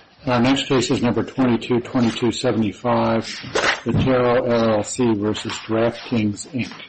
Our next case is number 222275, Beteiro, LLC v. DraftKings, Inc. Our next case is number 222275, Beteiro, LLC v. DraftKings, Inc. Our next case is number 222275, Beteiro, LLC v. DraftKings, Inc.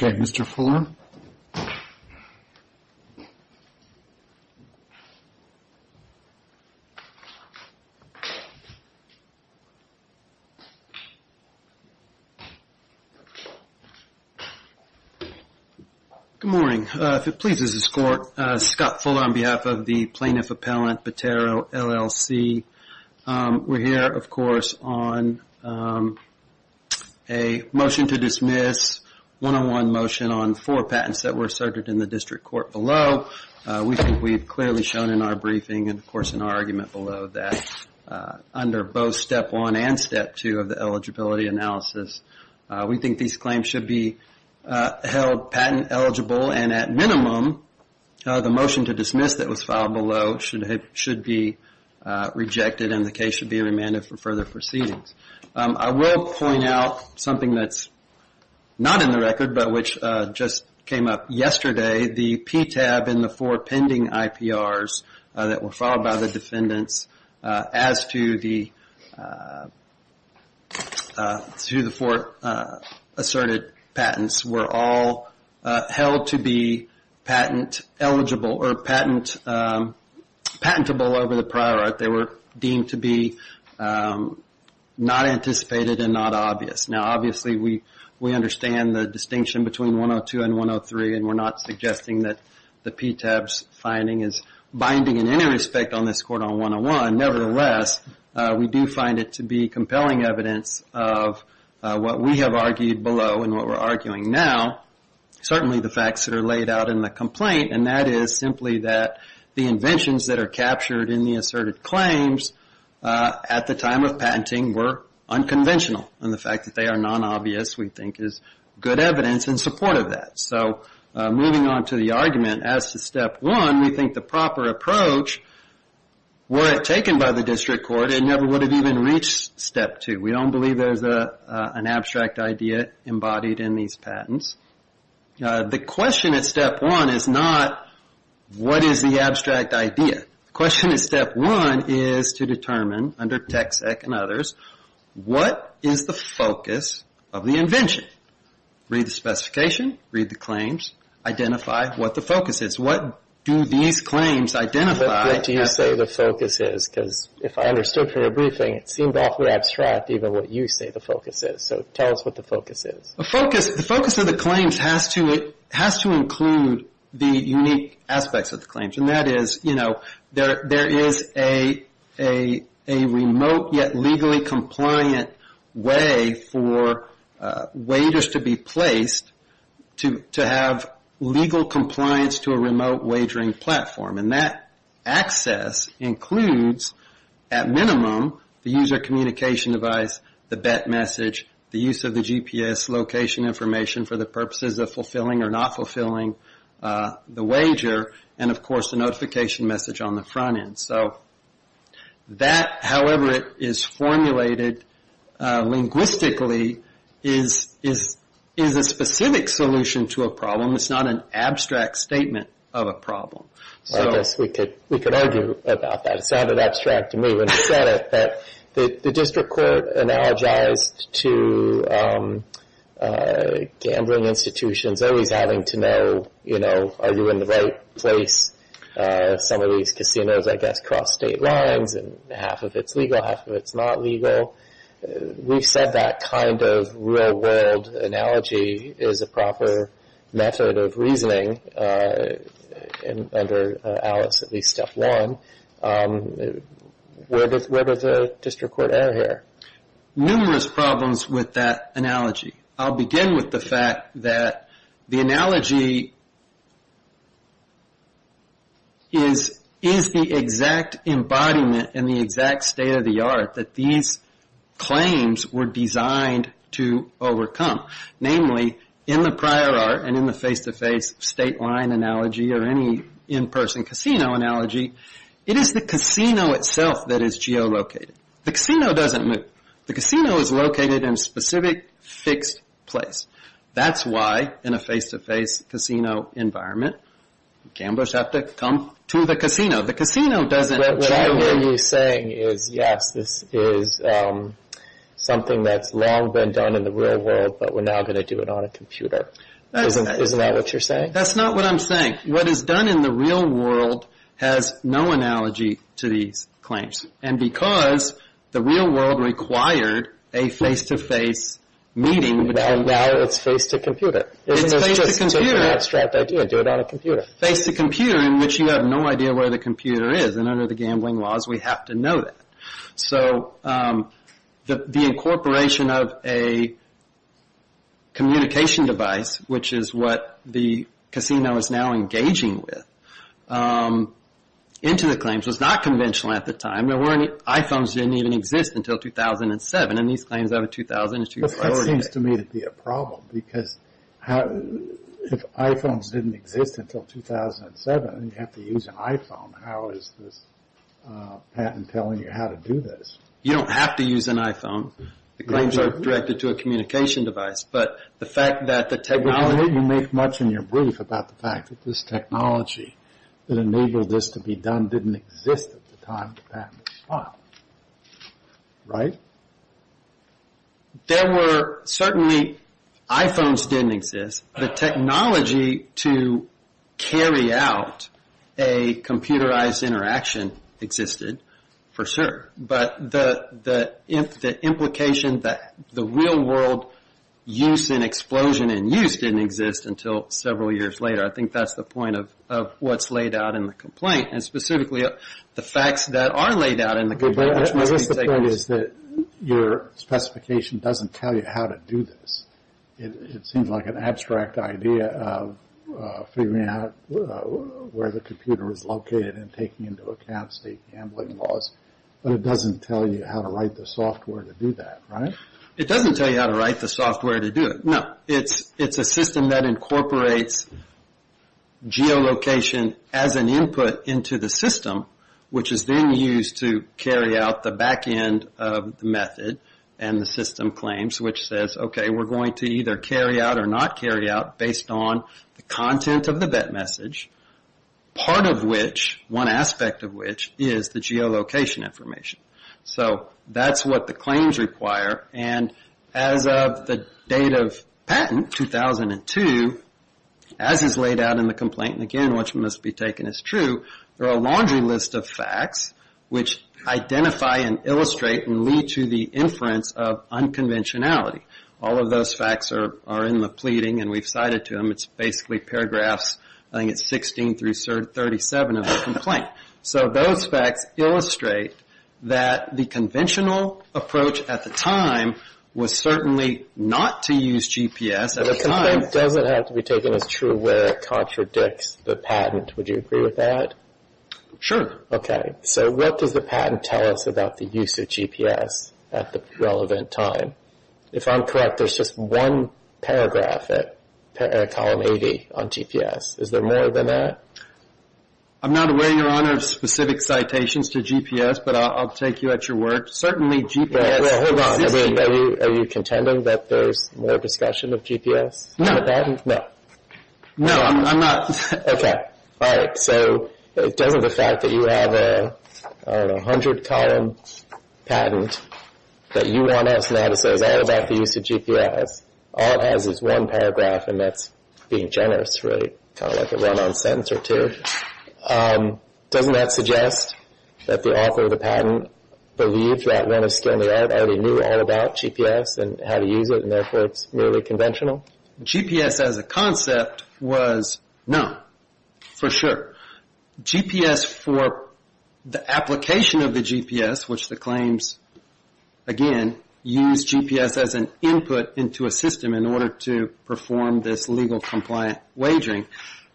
Good morning. If it pleases this Court, Scott Fuller on behalf of the Plaintiff Appellant Beteiro, LLC. We're here of course on a motion to dismiss, one-on-one motion on four patents that were asserted in the district court below. We think we've clearly shown in our briefing and of course in our argument below that under both step one and step two of the eligibility analysis, we think these claims should be held patent eligible and at minimum, the motion to dismiss that was filed below should be rejected and the case should be remanded for further proceedings. I will point out something that's not in the record but which just came up yesterday. The PTAB and the four pending IPRs that were filed by the defendants as to the four asserted patents were all held to be patent eligible or patentable over the prior art. They were deemed to be not anticipated and not obvious. Now obviously we understand the distinction between 102 and 103 and we're not suggesting that the PTAB's finding is binding in any respect on this court on 101. Nevertheless, we do find it to be compelling evidence of what we have argued below and what we're arguing now. Certainly the facts that are laid out in the complaint and that is simply that the inventions that are captured in the asserted claims at the time of patenting were unconventional and the fact that they are non-obvious we think is good evidence in support of that. So moving on to the argument as to step one, we think the proper approach were it taken by the district court it never would have even reached step two. We don't believe there's an abstract idea embodied in these patents. The question at step one is not what is the abstract idea. The question at step one is to determine under TexEc and others, what is the focus of the invention? Read the specification, read the claims, identify what the focus is. What do these claims identify? What do you say the focus is? Because if I understood from your briefing it seemed awfully abstract even what you say the focus is. So tell us what the focus is. The focus of the claims has to include the unique aspects of the claims and that is there is a remote yet legally compliant way for wagers to be placed to have legal compliance to a remote wagering platform and that access includes at minimum the user communication device, the bet message, the use of the GPS location information for the purposes of fulfilling or not fulfilling the wager and of course the notification message on the front end. So that however it is formulated linguistically is a specific solution to a problem. It's not an abstract statement of a problem. I guess we could argue about that. It sounded abstract to me when you said it that the district court analogized to gambling institutions always having to know are you in the right place. Some of these casinos I guess cross state lines and half of it's legal, half of it's not legal. We've said that kind of real world analogy is a proper method of reasoning under Alice at least step one. Where does the district court err here? Numerous problems with that analogy. I'll begin with the fact that the analogy is the exact embodiment and the exact state of the art that these claims were designed to overcome. Namely in the prior art and in the face to face state line analogy or any in person casino analogy, it is the casino itself that is geolocated. The casino doesn't move. The casino is located in a specific fixed place. That's why in a face to face casino environment gamblers have to come to the casino. The casino doesn't move. What I hear you saying is yes, this is something that's long been done in the real world but we're now going to do it on a computer. Isn't that what you're saying? That's not what I'm saying. What is done in the real world has no analogy to these claims. Because the real world required a face to face meeting. Now it's face to computer. It's face to computer. It's just an abstract idea. Do it on a computer. Face to computer in which you have no idea where the computer is. Under the gambling laws we have to know that. The incorporation of a communication device which is what the casino is now engaging with into the claims was not conventional at the time. iPhones didn't even exist until 2007. And these claims over 2000 is to your priority. That seems to me to be a problem because if iPhones didn't exist until 2007 and you have to use an iPhone, how is this patent telling you how to do this? You don't have to use an iPhone. The claims are directed to a communication device. But the fact that the technology I don't think you make much in your brief about the fact that this technology that enabled this to be done didn't exist at the time the patent was filed. Right? There were certainly iPhones didn't exist. The technology to carry out a computerized interaction existed for sure. But the implication that the real world use and explosion in use didn't exist until several years later. I think that's the point of what's laid out in the complaint. And specifically the facts that are laid out in the complaint. Your specification doesn't tell you how to do this. It seems like an abstract idea of figuring out where the computer is located and taking into account state gambling laws. But it doesn't tell you how to write the software to do that. Right? It doesn't tell you how to write the software to do it. No. It's a system that incorporates geolocation as an input into the system which is then used to carry out the back end of the method and the system claims which says, okay, we're going to either carry out or not carry out based on the content of the vet message. Part of which, one aspect of which, is the geolocation information. So that's what the claims require. And as of the date of patent, 2002, as is laid out in the complaint, and again what must be taken as true, there are a laundry list of facts which identify and illustrate and lead to the inference of unconventionality. All of those facts are in the pleading and we've cited to them. It's basically paragraphs, I think it's 16 through 37 of the complaint. So those facts illustrate that the conventional approach at the time was certainly not to use GPS at the time. The complaint doesn't have to be taken as true where it contradicts the patent. Would you agree with that? Sure. Okay. So what does the patent tell us about the use of GPS at the relevant time? If I'm correct, there's just one paragraph at column 80 on GPS. Is there more than that? I'm not aware, Your Honor, of specific citations to GPS, but I'll take you at your word. Certainly GPS exists. Hold on. Are you contending that there's more discussion of GPS on the patent? No. No. No, I'm not. Okay. All right. So doesn't the fact that you have a 100-column patent that you want us to know how to say is all about the use of GPS, all it has is one paragraph, and that's being generous, really, kind of like a one-on-sentence or two. Doesn't that suggest that the author of the patent believes that when it's thrown out, they already knew all about GPS and how to use it, and therefore it's merely conventional? GPS as a concept was no, for sure. GPS for the application of the GPS, which the claims, again, use GPS as an input into a system in order to perform this legal compliant wagering,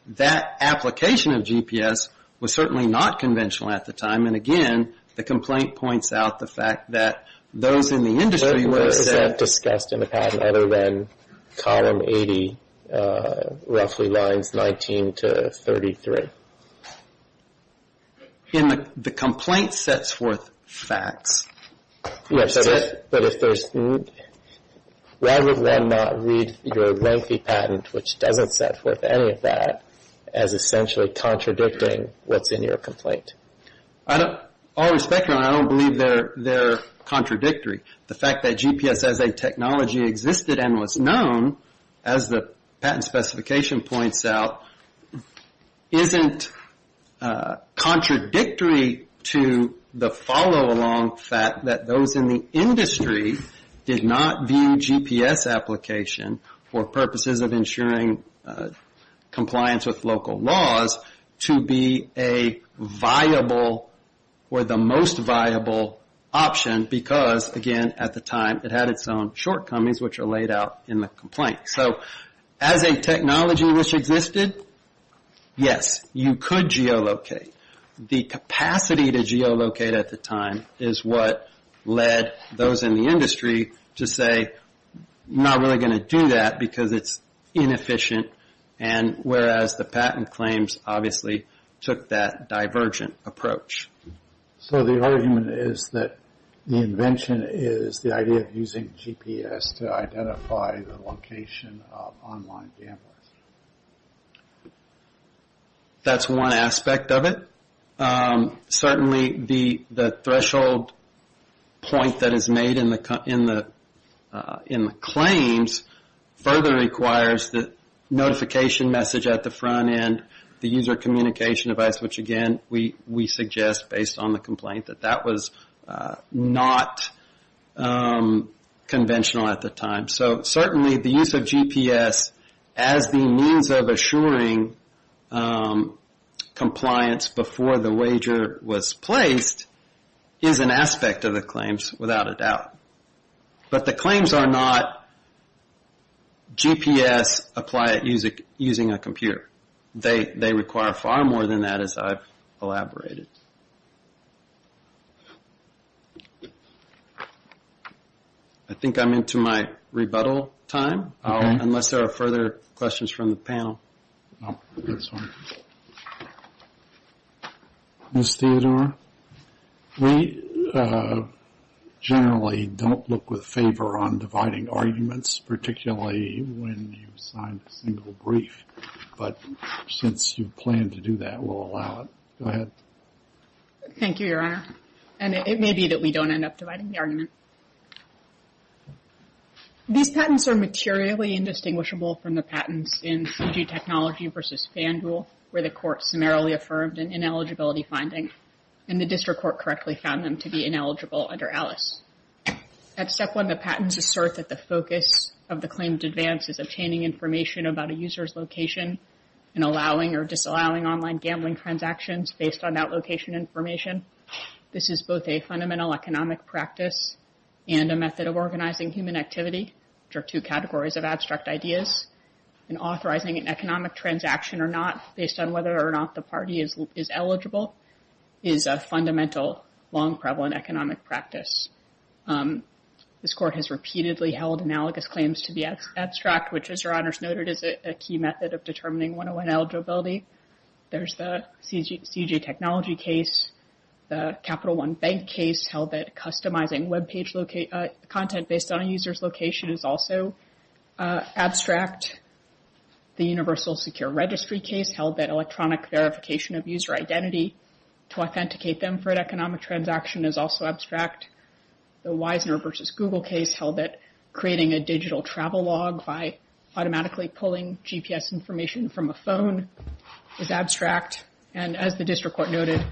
that application of GPS was certainly not conventional at the time, and again, the complaint points out the fact that those in the industry would have said other than column 80, roughly lines 19 to 33. And the complaint sets forth facts. Yes, but if there's, rather than not read your lengthy patent, which doesn't set forth any of that, as essentially contradicting what's in your complaint. I don't, all respect, I don't believe they're contradictory. The fact that GPS as a technology existed and was known, as the patent specification points out, isn't contradictory to the follow-along fact that those in the industry did not view GPS application for purposes of ensuring compliance with local laws to be a viable or the most viable option because, again, at the time, it had its own shortcomings, which are laid out in the complaint. So as a technology which existed, yes, you could geolocate. The capacity to geolocate at the time is what led those in the industry to say, not really going to do that because it's inefficient, and whereas the patent claims obviously took that divergent approach. So the argument is that the invention is the idea of using GPS to identify the location of online gamblers. That's one aspect of it. Certainly the threshold point that is made in the claims further requires the notification message at the front end, the user communication device, which, again, we suggest based on the complaint that that was not conventional at the time. So certainly the use of GPS as the means of assuring compliance before the wager was placed is an aspect of the claims without a doubt. But the claims are not GPS applied using a computer. They require far more than that, as I've elaborated. I think I'm into my rebuttal time, unless there are further questions from the panel. This one. Ms. Theodore, we generally don't look with favor on dividing arguments, particularly when you sign a single brief, but since you plan to do that, we'll allow it. Go ahead. Thank you, Your Honor. These patents are materially indistinguishable from the patents in CG Technology v. FanDuel, where the court summarily affirmed an ineligibility finding, and the district court correctly found them to be ineligible under ALICE. At Step 1, the patents assert that the focus of the claim to advance is obtaining information about a user's location and allowing or disallowing online gambling transactions based on that location information. This is both a fundamental economic practice and a method of organizing human activity, which are two categories of abstract ideas. And authorizing an economic transaction or not, based on whether or not the party is eligible, is a fundamental, long-prevalent economic practice. This court has repeatedly held analogous claims to be abstract, which, as Your Honors noted, is a key method of determining 101 eligibility. There's the CG Technology case. The Capital One Bank case held that customizing web page content based on a user's location is also abstract. The Universal Secure Registry case held that electronic verification of user identity to authenticate them for an economic transaction is also abstract. The Wisner v. Google case held that creating a digital travel log by automatically pulling GPS information from a phone is abstract. And as the district court noted,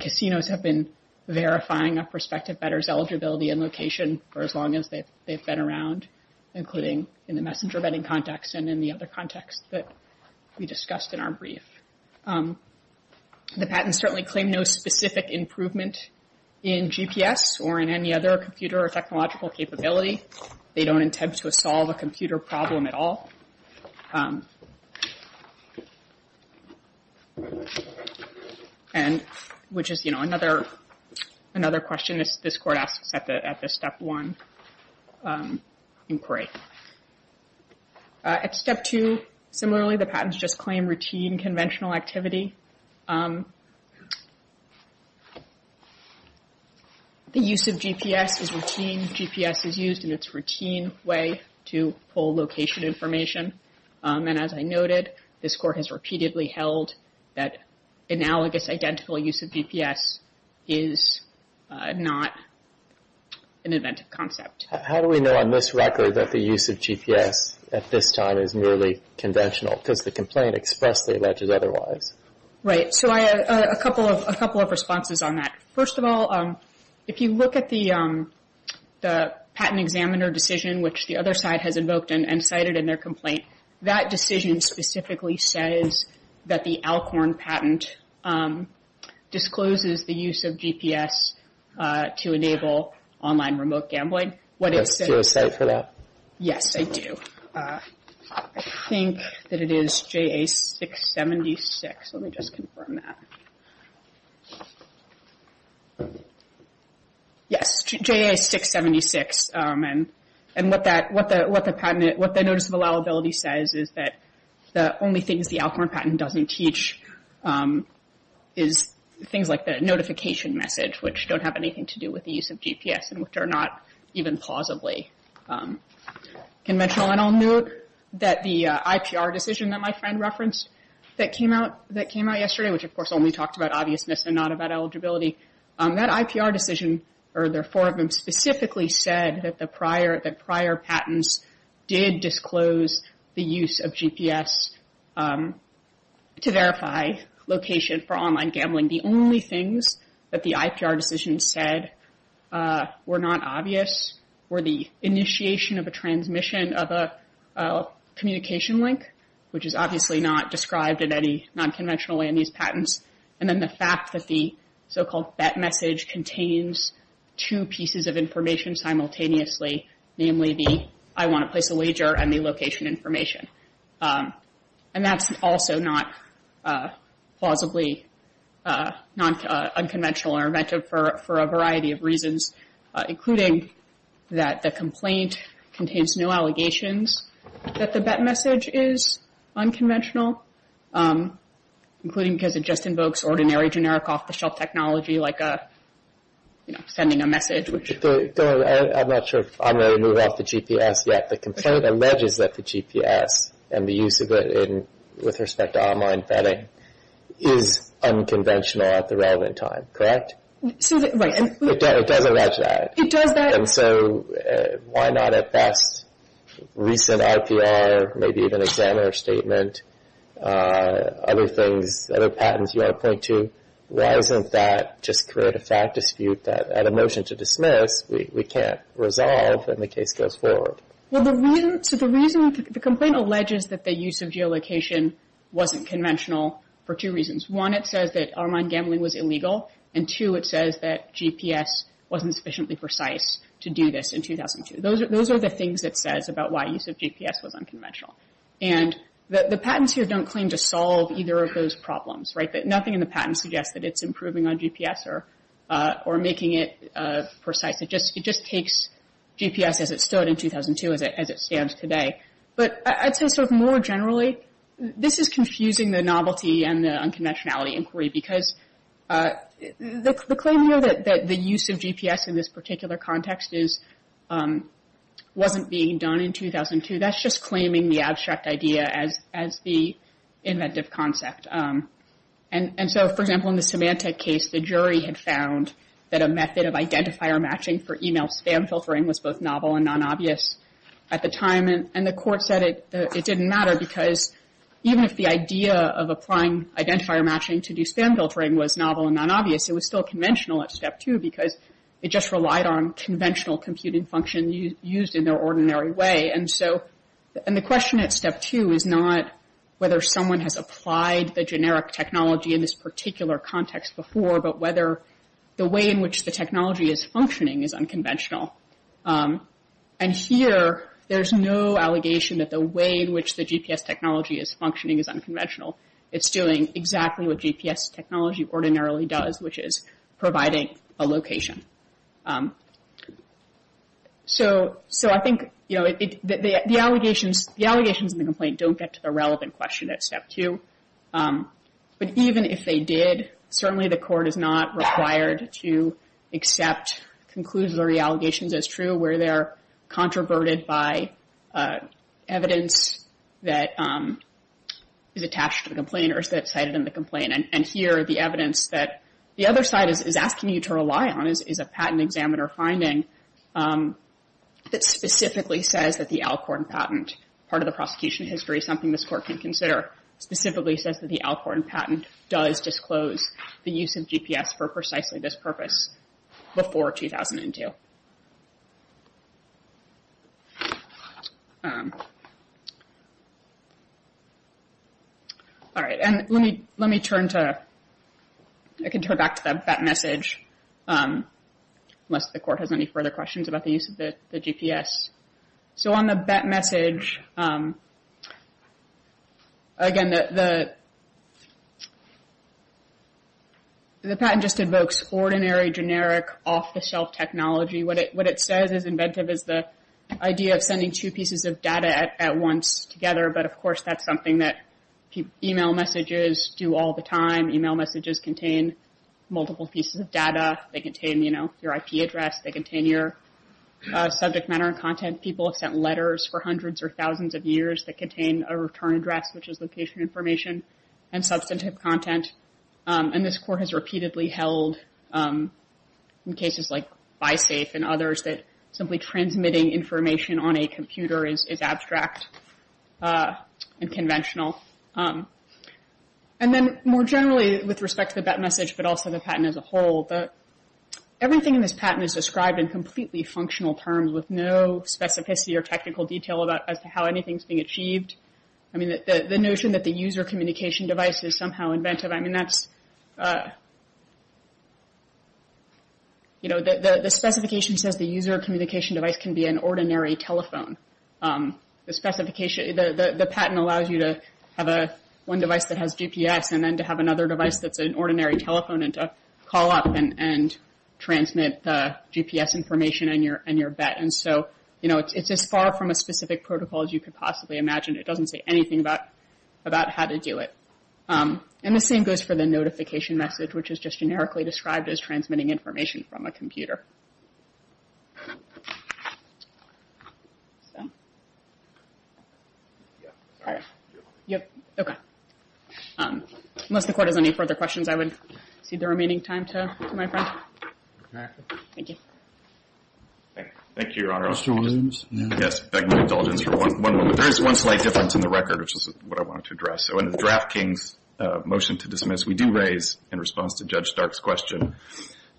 casinos have been verifying a prospective bettor's eligibility and location for as long as they've been around, including in the messenger betting context and in the other contexts that we discussed in our brief. The patents certainly claim no specific improvement in GPS or in any other computer or technological capability. They don't intend to solve a computer problem at all. Which is another question this court asks at the Step 1 inquiry. At Step 2, similarly, the patents just claim routine conventional activity. The use of GPS is routine. GPS is used in its routine way to pull location information. And as I noted, this court has repeatedly held that analogous identical use of GPS is not an inventive concept. How do we know on this record that the use of GPS at this time is merely conventional? Because the complaint expressly alleges otherwise. Right, so I have a couple of responses on that. First of all, if you look at the patent examiner decision, which the other side has invoked and cited in their complaint, that decision specifically says that the Alcorn patent discloses the use of GPS to enable online remote gambling. Do you have a say for that? Yes, I do. I think that it is JA676. Let me just confirm that. Yes, JA676. And what the notice of allowability says is that the only things the Alcorn patent doesn't teach is things like the notification message, which don't have anything to do with the use of GPS, and which are not even plausibly conventional. I'll note that the IPR decision that my friend referenced that came out yesterday, which of course only talked about obviousness and not about eligibility, that IPR decision, or there are four of them, specifically said that prior patents did disclose the use of GPS to verify location for online gambling. The only things that the IPR decision said were not obvious were the initiation of a transmission of a communication link, which is obviously not described in any nonconventional way in these patents, and then the fact that the so-called bet message contains two pieces of information simultaneously, namely the I want to place a wager and the location information. And that's also not plausibly unconventional or inventive for a variety of reasons, including that the complaint contains no allegations that the bet message is unconventional, including because it just invokes ordinary generic off-the-shelf technology like sending a message. I'm not sure if I'm going to move off the GPS yet. The complaint alleges that the GPS and the use of it with respect to online betting is unconventional at the relevant time, correct? It does allege that. It does that. And so why not at best recent IPR, maybe even examiner statement, other things, other patents you want to point to, why doesn't that just create a fact dispute that at a motion to dismiss we can't resolve when the case goes forward? So the reason the complaint alleges that the use of geolocation wasn't conventional for two reasons. One, it says that online gambling was illegal. And two, it says that GPS wasn't sufficiently precise to do this in 2002. Those are the things it says about why use of GPS was unconventional. And the patents here don't claim to solve either of those problems, right? Nothing in the patent suggests that it's improving on GPS or making it precise. It just takes GPS as it stood in 2002 as it stands today. But I'd say sort of more generally, this is confusing the novelty and the unconventionality inquiry because the claim here that the use of GPS in this particular context wasn't being done in 2002, that's just claiming the abstract idea as the inventive concept. And so, for example, in the Symantec case, the jury had found that a method of identifier matching for email spam filtering was both novel and non-obvious at the time. And the court said it didn't matter because even if the idea of applying identifier matching to do spam filtering was novel and non-obvious, it was still conventional at Step 2 because it just relied on conventional computing function used in their ordinary way. And the question at Step 2 is not whether someone has applied the generic technology in this particular context before, but whether the way in which the technology is functioning is unconventional. And here, there's no allegation that the way in which the GPS technology is functioning is unconventional. It's doing exactly what GPS technology ordinarily does, which is providing a location. So I think the allegations in the complaint don't get to the relevant question at Step 2. But even if they did, certainly the court is not required to accept conclusory allegations as true where they're controverted by evidence that is attached to the complaint or is cited in the complaint. And here, the evidence that the other side is asking you to rely on is a patent examiner finding that specifically says that the Alcorn patent, part of the prosecution history, something this court can consider, specifically says that the Alcorn patent does disclose the use of GPS for precisely this purpose before 2002. All right, and let me turn to... I can turn back to the bet message, unless the court has any further questions about the use of the GPS. So on the bet message... Again, the patent just invokes ordinary, generic, off-the-shelf technology. What it says as inventive is the idea of sending two pieces of data at once together, but of course that's something that email messages do all the time. Email messages contain multiple pieces of data. They contain, you know, your IP address. They contain your subject matter and content. People have sent letters for hundreds or thousands of years that contain a return address, which is location information, and substantive content. And this court has repeatedly held, in cases like BiSafe and others, that simply transmitting information on a computer is abstract and conventional. And then, more generally, with respect to the bet message, but also the patent as a whole, everything in this patent is described in completely functional terms with no specificity or technical detail as to how anything's being achieved. I mean, the notion that the user communication device is somehow inventive, I mean, that's... You know, the specification says the user communication device can be an ordinary telephone. The patent allows you to have one device that has GPS and then to have another device that's an ordinary telephone and to call up and transmit GPS information on your bet. And so, you know, it's as far from a specific protocol as you could possibly imagine. It doesn't say anything about how to do it. And the same goes for the notification message, which is just generically described as transmitting information from a computer. So... Yep, okay. Unless the court has any further questions, I would cede the remaining time to my friend. Thank you. Thank you, Your Honor. Mr. Williams? Yes, I'd like my indulgence for one moment. There is one slight difference in the record, which is what I wanted to address. So in the Draft King's motion to dismiss, we do raise, in response to Judge Stark's question,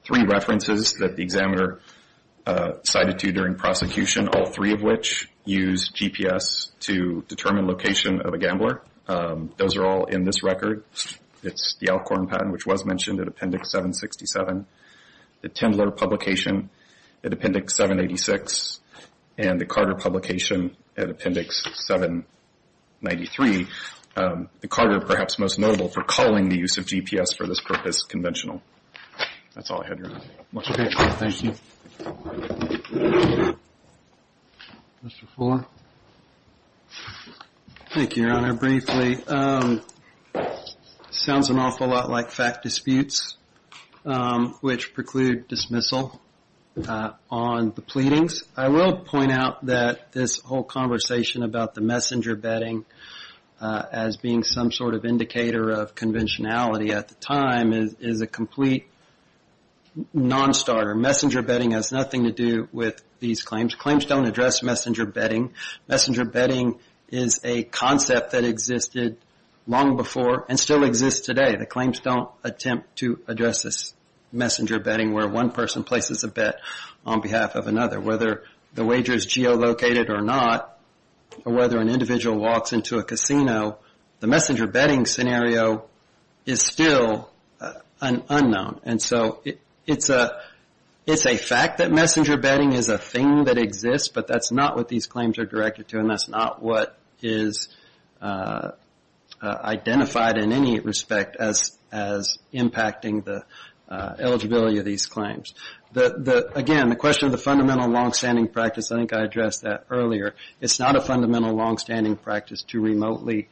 three references that the examiner cited to during prosecution, all three of which use GPS to determine location of a gambler. Those are all in this record. It's the Alcorn patent, which was mentioned at Appendix 767, the Tindler publication at Appendix 786, and the Carter publication at Appendix 793. The Carter, perhaps most notable, for calling the use of GPS for this purpose conventional. That's all I had, Your Honor. Okay, thank you. Mr. Fuller? Thank you, Your Honor. Briefly, it sounds an awful lot like fact disputes, which preclude dismissal on the pleadings. I will point out that this whole conversation about the messenger betting as being some sort of indicator of conventionality at the time is a complete non-starter. Messenger betting has nothing to do with these claims. Claims don't address messenger betting. Messenger betting is a concept that existed long before and still exists today. The claims don't attempt to address this messenger betting where one person places a bet on behalf of another. Whether the wager is geolocated or not, or whether an individual walks into a casino, the messenger betting scenario is still unknown. It's a fact that messenger betting is a thing that exists, but that's not what these claims are directed to, and that's not what is identified in any respect as impacting the eligibility of these claims. Again, the question of the fundamental longstanding practice, I think I addressed that earlier. It's not a fundamental longstanding practice to remotely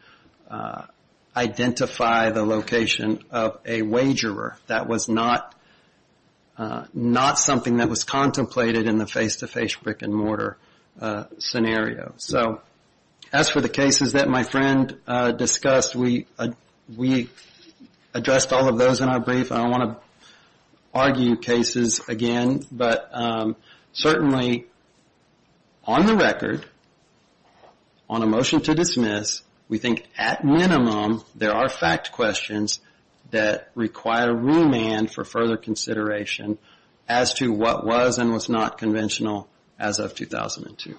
identify the location of a wagerer. That was not something that was contemplated in the face-to-face brick-and-mortar scenario. As for the cases that my friend discussed, we addressed all of those in our brief. I don't want to argue cases again, but certainly on the record, on a motion to dismiss, we think at minimum there are fact questions that require remand for further consideration as to what was and was not conventional as of 2002.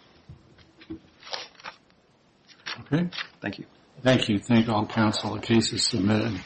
Thank you. Thank you. Thank you. Thank all counsel. The case is submitted.